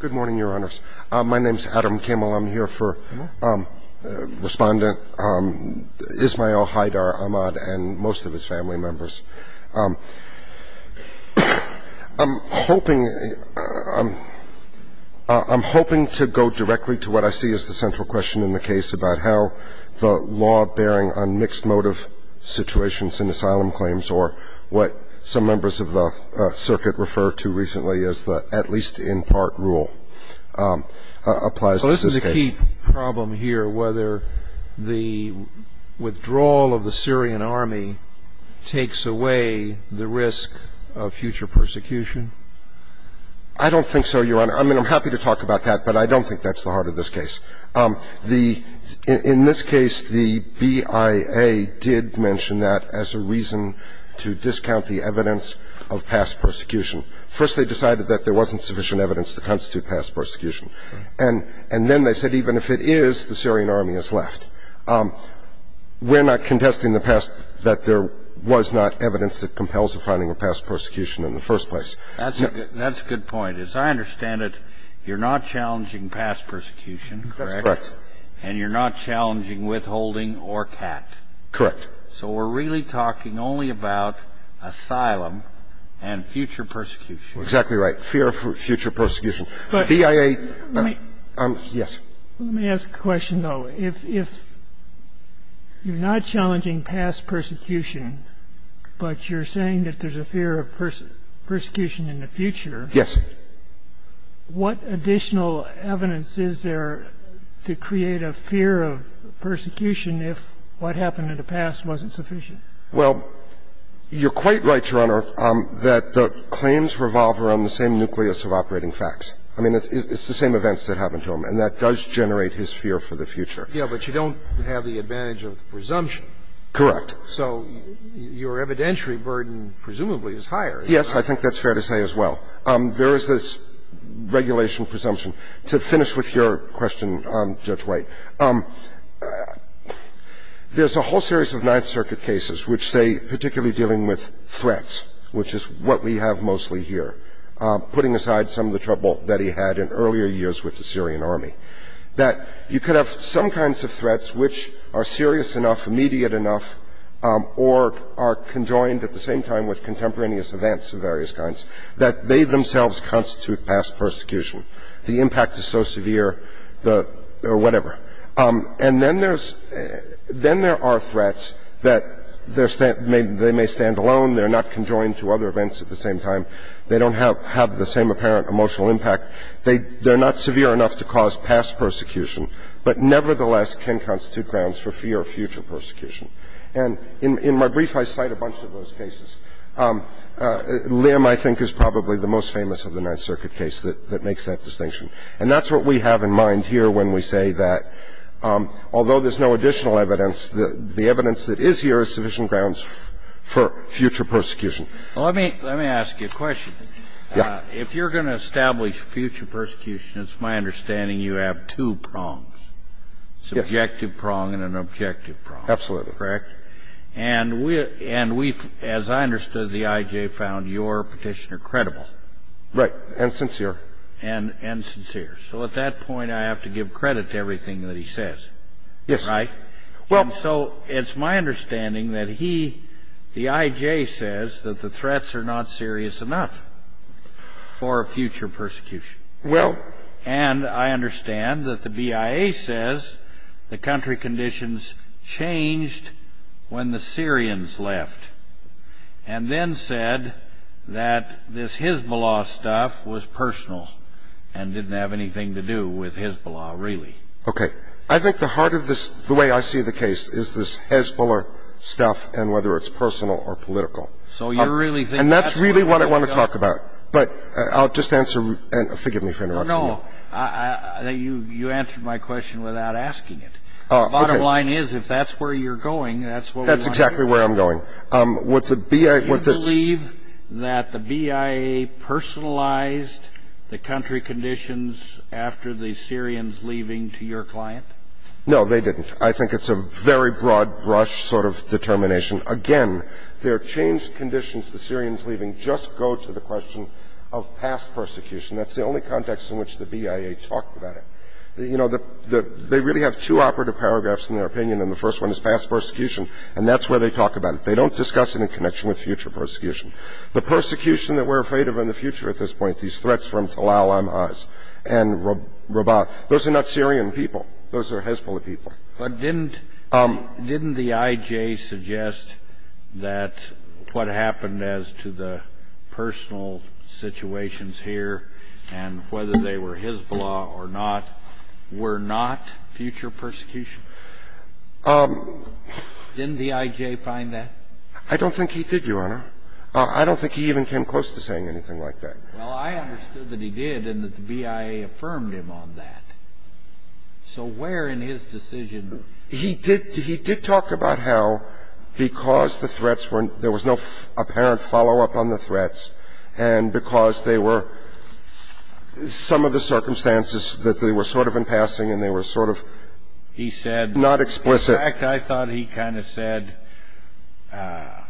Good morning, Your Honors. My name is Adam Kimmel. I'm here for respondent Ismail Haidar Ahmad and most of his family members. I'm hoping to go directly to what I see as the central question in the case about how the law bearing on mixed motive situations in asylum claims or what some members of the circuit refer to recently as the at-least-in-part rule applies to this case. So this is a key problem here, whether the withdrawal of the Syrian army takes away the risk of future persecution? I don't think so, Your Honor. I mean, I'm happy to talk about that, but I don't think that's the heart of this case. The – in this case, the BIA did mention that as a reason to discount the evidence of past persecution. First, they decided that there wasn't sufficient evidence to constitute past persecution. And then they said even if it is, the Syrian army is left. We're not contesting the past, that there was not evidence that compels the finding of past persecution in the first place. That's a good point. As I understand it, you're not challenging past persecution, correct? That's correct. And you're not challenging withholding or CAT? Correct. So we're really talking only about asylum and future persecution. Exactly right. Fear of future persecution. But the BIA – yes. Let me ask a question, though. If you're not challenging past persecution, but you're saying that there's a fear of persecution in the future. Yes. What additional evidence is there to create a fear of persecution if what happened in the past wasn't sufficient? Well, you're quite right, Your Honor, that the claims revolve around the same nucleus of operating facts. I mean, it's the same events that happened to him. And that does generate his fear for the future. Yes, but you don't have the advantage of presumption. Correct. So your evidentiary burden presumably is higher. Yes, I think that's fair to say as well. There is this regulation presumption. To finish with your question, Judge White, there's a whole series of Ninth Circuit cases which say, particularly dealing with threats, which is what we have mostly here, putting aside some of the trouble that he had in earlier years with the Syrian army, that you could have some kinds of threats which are serious enough, immediate enough, or are conjoined at the same time with contemporaneous events of various kinds, that they themselves constitute past persecution. The impact is so severe, the – or whatever. And then there's – then there are threats that they may stand alone, they're not conjoined to other events at the same time. They don't have the same apparent emotional impact. They're not severe enough to cause past persecution, but nevertheless can constitute grounds for fear of future persecution. And in my brief, I cite a bunch of those cases. Lim, I think, is probably the most famous of the Ninth Circuit case that makes that distinction. And that's what we have in mind here when we say that, although there's no additional evidence, the evidence that is here is sufficient grounds for future persecution. Well, let me – let me ask you a question. Yeah. If you're going to establish future persecution, it's my understanding you have two prongs. Yes. It's an objective prong and an objective prong. Absolutely. Correct? And we – and we, as I understood the I.J., found your petitioner credible. Right. And sincere. And sincere. So at that point, I have to give credit to everything that he says. Yes. Right. And so it's my understanding that he – the I.J. says that the threats are not serious enough for future persecution. Well – And I understand that the BIA says the country conditions changed when the Syrians left and then said that this Hezbollah stuff was personal and didn't have anything to do with Hezbollah, really. Okay. I think the heart of this – the way I see the case is this Hezbollah stuff and whether it's personal or political. So you really think that's where you're going? And that's really what I want to talk about. But I'll just answer – and forgive me for interrupting you. No, no. I think you – you answered my question without asking it. Okay. Bottom line is, if that's where you're going, that's what we want to hear. That's exactly where I'm going. What the BIA – what the – No, they didn't. I think it's a very broad-brush sort of determination. Again, their changed conditions, the Syrians leaving, just go to the question of past persecution. That's the only context in which the BIA talked about it. You know, the – they really have two operative paragraphs in their opinion, and the first one is past persecution, and that's where they talk about it. They don't discuss it in connection with future persecution. The persecution that we're afraid of in the future at this point, these threats from Talal al-Ahmaz and Rabaa – those are not Syrian people. Those are Hezbollah people. But didn't – didn't the IJ suggest that what happened as to the personal situations here and whether they were Hezbollah or not were not future persecution? Didn't the IJ find that? I don't think he did, Your Honor. I don't think he even came close to saying anything like that. Well, I understood that he did and that the BIA affirmed him on that. So where in his decision – He did – he did talk about how because the threats were – there was no apparent follow-up on the threats and because they were – some of the circumstances that they were sort of in passing and they were sort of not explicit. He said – in fact, I thought he kind of said that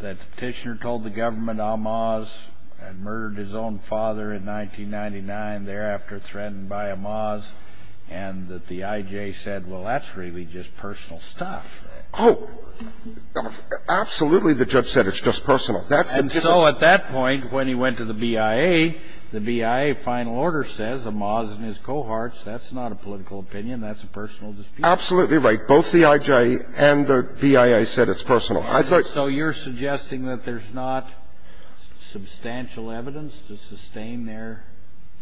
the petitioner told the government that Talal al-Ahmaz had murdered his own father in 1999, thereafter threatened by Ahmaz, and that the IJ said, well, that's really just personal stuff. Oh, absolutely the judge said it's just personal. And so at that point, when he went to the BIA, the BIA final order says Ahmaz and his cohorts, that's not a political opinion, that's a personal dispute. Absolutely right. Both the IJ and the BIA said it's personal. So you're suggesting that there's not substantial evidence to sustain their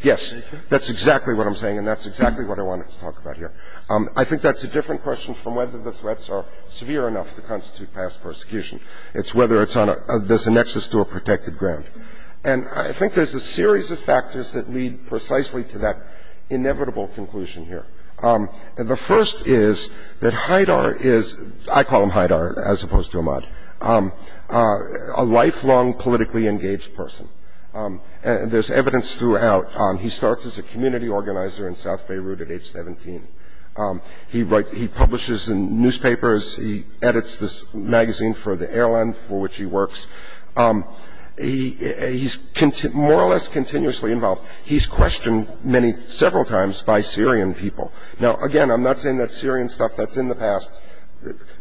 position? Yes. That's exactly what I'm saying and that's exactly what I wanted to talk about here. I think that's a different question from whether the threats are severe enough to constitute past persecution. It's whether it's on a – there's a nexus to a protected ground. And I think there's a series of factors that lead precisely to that inevitable conclusion here. The first is that Haidar is – I call him Haidar as opposed to Ahmad – a lifelong politically engaged person. There's evidence throughout. He starts as a community organizer in South Beirut at age 17. He publishes in newspapers. He edits this magazine for the airline for which he works. He's more or less continuously involved. He's questioned many – several times by Syrian people. Now, again, I'm not saying that's Syrian stuff. That's in the past.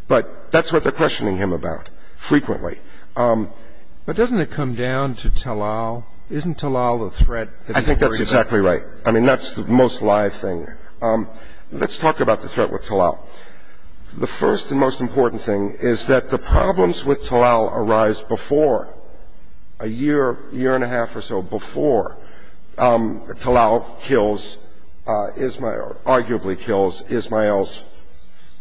But that's what they're questioning him about frequently. But doesn't it come down to Talal? Isn't Talal a threat? I think that's exactly right. I mean, that's the most live thing. Let's talk about the threat with Talal. The first and most important thing is that the problems with Talal arise before, a year, year-and-a-half or so before Talal kills Ismael or arguably kills Ismael's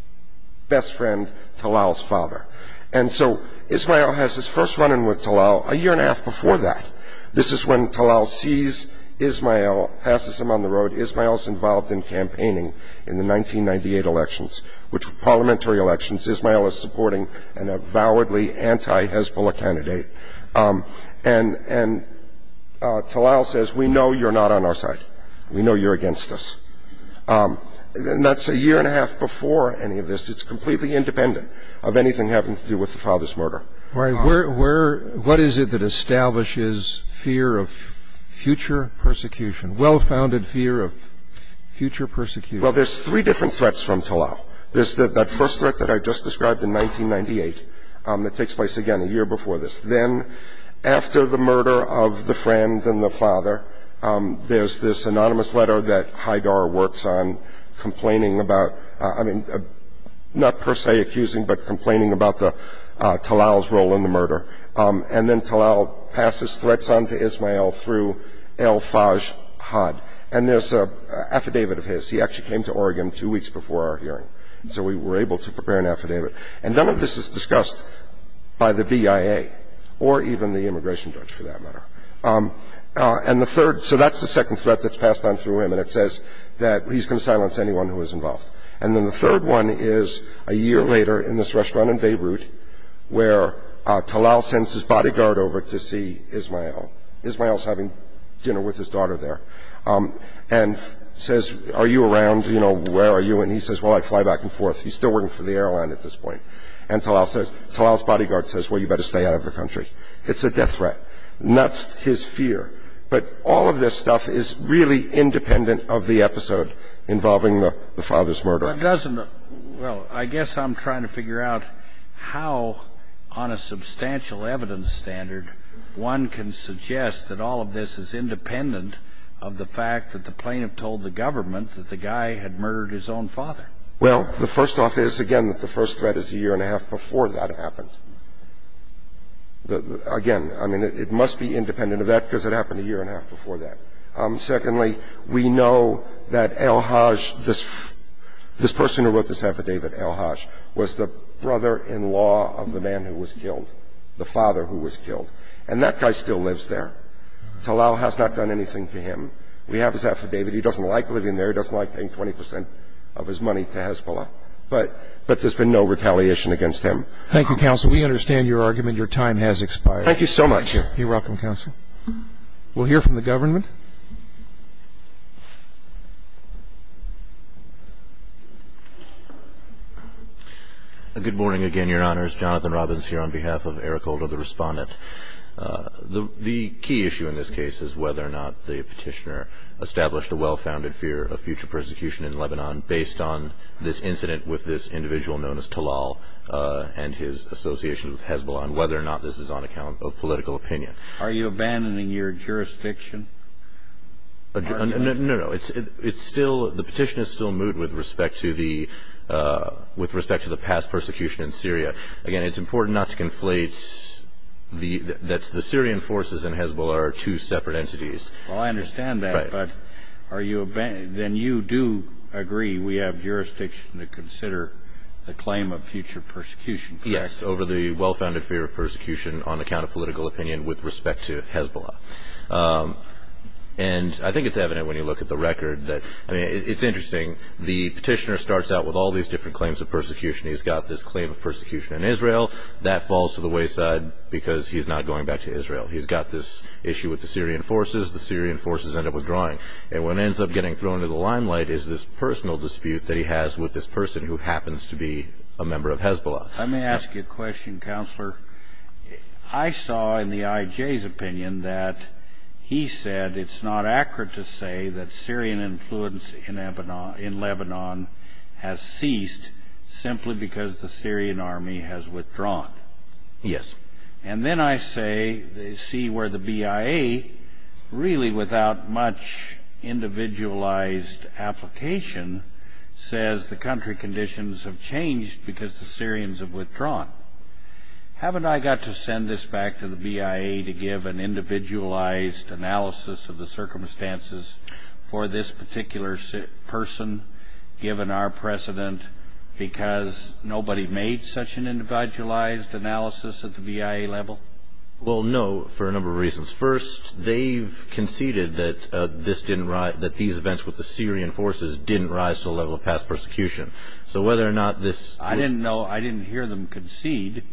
best friend, Talal's father. And so Ismael has his first run-in with Talal a year-and-a-half before that. This is when Talal sees Ismael, passes him on the road. Ismael's involved in campaigning in the 1998 elections, which were parliamentary elections. Ismael is supporting an avowedly anti-Hezbollah candidate. And Talal says, we know you're not on our side. We know you're against us. And that's a year-and-a-half before any of this. It's completely independent of anything having to do with the father's murder. What is it that establishes fear of future persecution, well-founded fear of future persecution? Well, there's three different threats from Talal. There's that first threat that I just described in 1998 that takes place, again, a year before this. Then, after the murder of the friend and the father, there's this anonymous letter that Haidar works on complaining about, I mean, not per se accusing, but complaining about Talal's role in the murder. And then Talal passes threats on to Ismael through El-Fajr Had. And there's an affidavit of his. He actually came to Oregon two weeks before our hearing, so we were able to prepare an affidavit. And none of this is discussed by the BIA or even the immigration judge, for that matter. And the third, so that's the second threat that's passed on through him, and it says that he's going to silence anyone who is involved. And then the third one is a year later in this restaurant in Beirut, where Talal sends his bodyguard over to see Ismael. Ismael's having dinner with his daughter there and says, are you around? You know, where are you? And he says, well, I fly back and forth. He's still working for the airline at this point. And Talal's bodyguard says, well, you better stay out of the country. It's a death threat. That's his fear. But all of this stuff is really independent of the episode involving the father's murder. Well, it doesn't. Well, I guess I'm trying to figure out how, on a substantial evidence standard, one can suggest that all of this is independent of the fact that the plaintiff told the government that the guy had murdered his own father. Well, the first off is, again, that the first threat is a year and a half before that happened. Again, I mean, it must be independent of that because it happened a year and a half before that. Secondly, we know that El-Haj, this person who wrote this affidavit, El-Haj, was the brother-in-law of the man who was killed, the father who was killed. And that guy still lives there. Talal has not done anything to him. We have his affidavit. He doesn't like living there. He doesn't like paying 20 percent of his money to Hezbollah. But there's been no retaliation against him. Thank you, counsel. Your time has expired. Thank you so much. You're welcome, counsel. We'll hear from the government. Good morning again, Your Honors. Jonathan Robbins here on behalf of Eric Holder, the respondent. The key issue in this case is whether or not the petitioner established a well-founded fear of future persecution in Lebanon based on this incident with this individual known as Talal and his association with Hezbollah and whether or not this is on account of political opinion. Are you abandoning your jurisdiction? No, no. The petition is still moot with respect to the past persecution in Syria. Again, it's important not to conflate that the Syrian forces and Hezbollah are two separate entities. Well, I understand that. Right. But then you do agree we have jurisdiction to consider the claim of future persecution, correct? Yes, over the well-founded fear of persecution on account of political opinion with respect to Hezbollah. And I think it's evident when you look at the record that it's interesting. The petitioner starts out with all these different claims of persecution. He's got this claim of persecution in Israel. That falls to the wayside because he's not going back to Israel. He's got this issue with the Syrian forces. The Syrian forces end up withdrawing. And what ends up getting thrown into the limelight is this personal dispute that he has with this person who happens to be a member of Hezbollah. Let me ask you a question, Counselor. I saw in the I.J.'s opinion that he said it's not accurate to say that Syrian influence in Lebanon has ceased simply because the Syrian army has withdrawn. Yes. And then I see where the BIA, really without much individualized application, says the country conditions have changed because the Syrians have withdrawn. Haven't I got to send this back to the BIA to give an individualized analysis of the circumstances for this particular person, given our precedent, because nobody made such an individualized analysis at the BIA level? Well, no, for a number of reasons. First, they've conceded that these events with the Syrian forces didn't rise to the level of past persecution. So whether or not this was- I didn't hear them concede.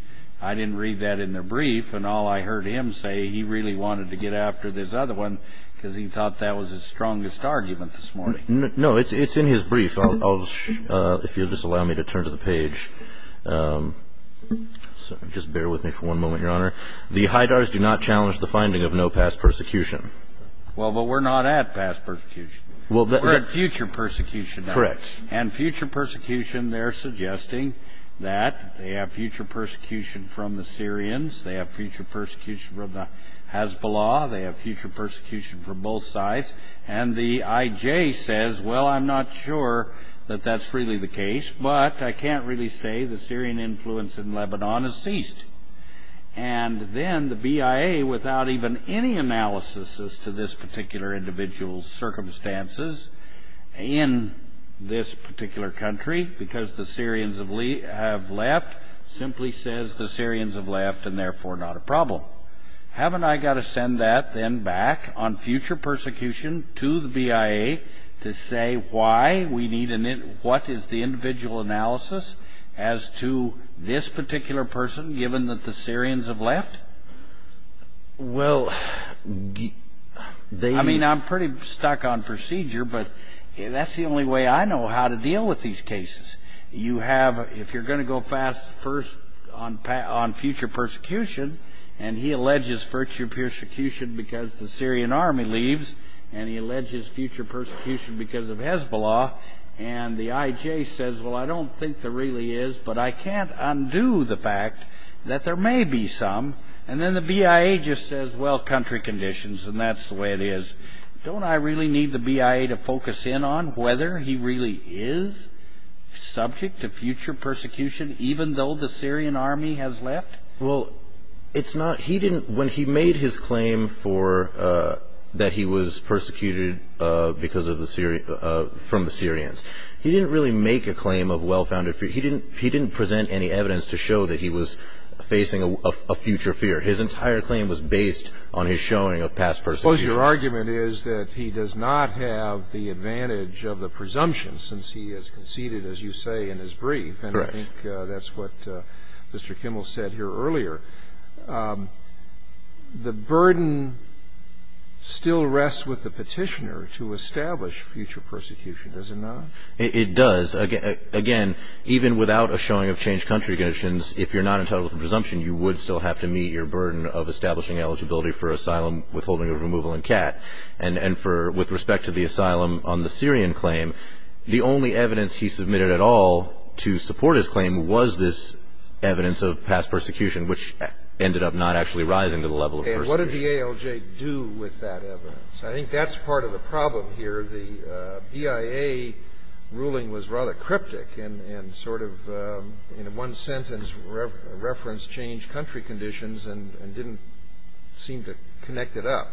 I didn't read that in their brief, and all I heard him say, he really wanted to get after this other one because he thought that was his strongest argument this morning. No, it's in his brief. If you'll just allow me to turn to the page. Just bear with me for one moment, Your Honor. The Haidars do not challenge the finding of no past persecution. Well, but we're not at past persecution. We're at future persecution. Correct. And future persecution, they're suggesting that they have future persecution from the Syrians. They have future persecution from the Hezbollah. They have future persecution from both sides. And the IJ says, well, I'm not sure that that's really the case, but I can't really say the Syrian influence in Lebanon has ceased. And then the BIA, without even any analysis as to this particular individual's circumstances in this particular country, because the Syrians have left, simply says the Syrians have left and therefore not a problem. Well, haven't I got to send that then back on future persecution to the BIA to say why we need an in – what is the individual analysis as to this particular person, given that the Syrians have left? Well, they – I mean, I'm pretty stuck on procedure, but that's the only way I know how to deal with these cases. You have – if you're going to go fast first on future persecution, and he alleges future persecution because the Syrian army leaves, and he alleges future persecution because of Hezbollah, and the IJ says, well, I don't think there really is, but I can't undo the fact that there may be some. And then the BIA just says, well, country conditions, and that's the way it is. Don't I really need the BIA to focus in on whether he really is subject to future persecution, even though the Syrian army has left? Well, it's not – he didn't – when he made his claim for – that he was persecuted because of the – from the Syrians, he didn't really make a claim of well-founded fear. He didn't present any evidence to show that he was facing a future fear. His entire claim was based on his showing of past persecution. I suppose your argument is that he does not have the advantage of the presumption, since he has conceded, as you say, in his brief. Correct. And I think that's what Mr. Kimmel said here earlier. The burden still rests with the petitioner to establish future persecution, does it not? It does. Again, even without a showing of changed country conditions, if you're not entitled to the presumption, you would still have to meet your burden of establishing eligibility for asylum, withholding of removal, and CAT. And for – with respect to the asylum on the Syrian claim, the only evidence he submitted at all to support his claim was this evidence of past persecution, which ended up not actually rising to the level of persecution. And what did the ALJ do with that evidence? I think that's part of the problem here. The BIA ruling was rather cryptic and sort of in one sentence referenced changed country conditions and didn't seem to connect it up.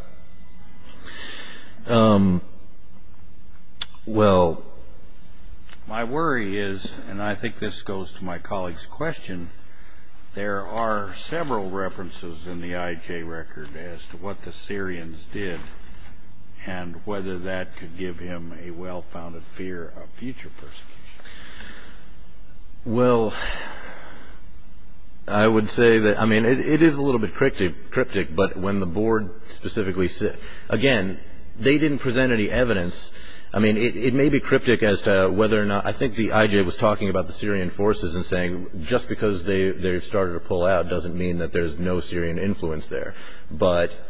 Well, my worry is, and I think this goes to my colleague's question, there are several references in the IJ record as to what the Syrians did and whether that could give him a well-founded fear of future persecution. Well, I would say that – I mean, it is a little bit cryptic, but when the board specifically – again, they didn't present any evidence. I mean, it may be cryptic as to whether or not – I think the IJ was talking about the Syrian forces and saying just because they started to pull out doesn't mean that there's no Syrian influence there. But,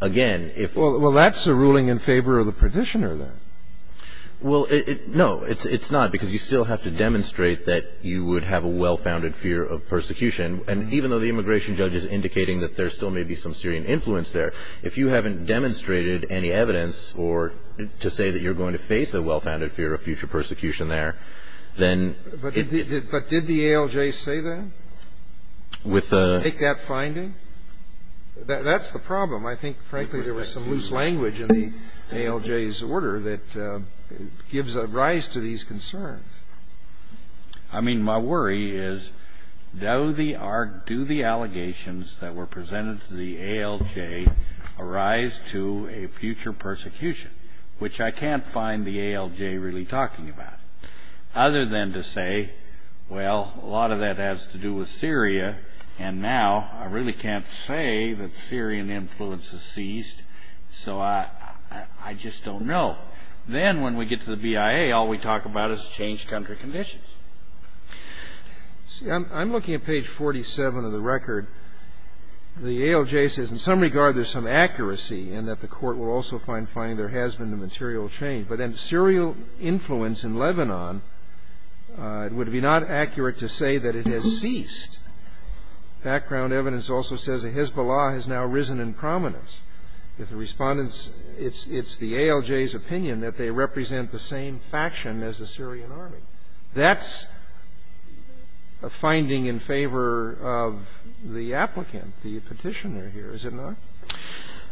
again, if – Well, that's a ruling in favor of the petitioner then. Well, no, it's not, because you still have to demonstrate that you would have a well-founded fear of persecution. And even though the immigration judge is indicating that there still may be some Syrian influence there, if you haven't demonstrated any evidence to say that you're going to face a well-founded fear of future persecution there, then – But did the ALJ say that? With the – That's the problem. I think, frankly, there was some loose language in the ALJ's order that gives rise to these concerns. I mean, my worry is, do the allegations that were presented to the ALJ arise to a future persecution, which I can't find the ALJ really talking about, other than to say, well, a lot of that has to do with Syria, and now I really can't say that Syrian influence has ceased, so I just don't know. Then, when we get to the BIA, all we talk about is changed country conditions. See, I'm looking at page 47 of the record. The ALJ says, in some regard, there's some accuracy, and that the Court will also find finding there has been a material change. But then serial influence in Lebanon, it would be not accurate to say that it has ceased. Background evidence also says the Hezbollah has now risen in prominence. If the respondents – it's the ALJ's opinion that they represent the same faction as the Syrian army. That's a finding in favor of the applicant, the petitioner here, is it not?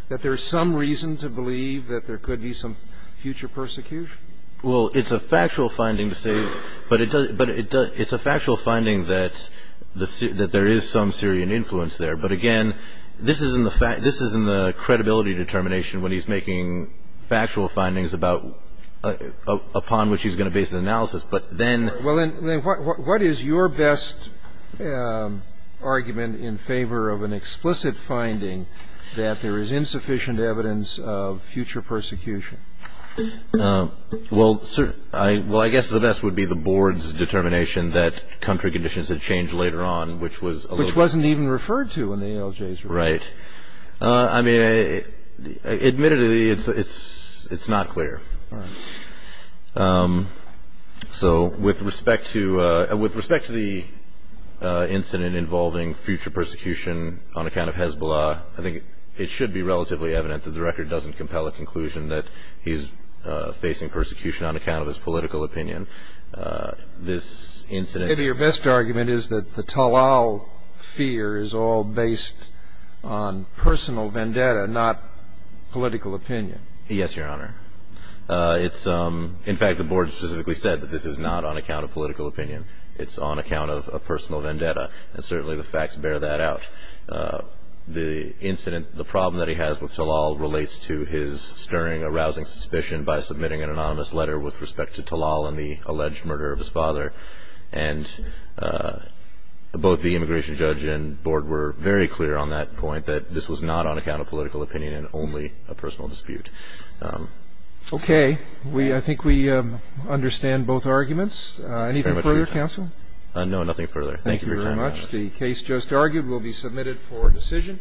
That there's some reason to believe that there could be some future persecution? Well, it's a factual finding to say – but it's a factual finding that there is some Syrian influence there. But, again, this is in the credibility determination when he's making factual findings upon which he's going to base an analysis. But then – Well, then what is your best argument in favor of an explicit finding that there is insufficient evidence of future persecution? Well, I guess the best would be the Board's determination that country conditions had changed later on, which was – Which wasn't even referred to in the ALJ's report. Right. I mean, admittedly, it's not clear. So, with respect to the incident involving future persecution on account of Hezbollah, I think it should be relatively evident that the record doesn't compel a conclusion that he's facing persecution on account of his political opinion. This incident – Maybe your best argument is that the Talal fear is all based on personal vendetta, not political opinion. Yes, Your Honor. It's – In fact, the Board specifically said that this is not on account of political opinion. It's on account of personal vendetta, and certainly the facts bear that out. The incident – the problem that he has with Talal relates to his stirring, arousing suspicion by submitting an anonymous letter with respect to Talal and the alleged murder of his father. And both the immigration judge and Board were very clear on that point, that this was not on account of political opinion and only a personal dispute. Okay. I think we understand both arguments. Anything further, counsel? No, nothing further. Thank you for your time, Your Honor. Thank you very much. The case just argued will be submitted for decision.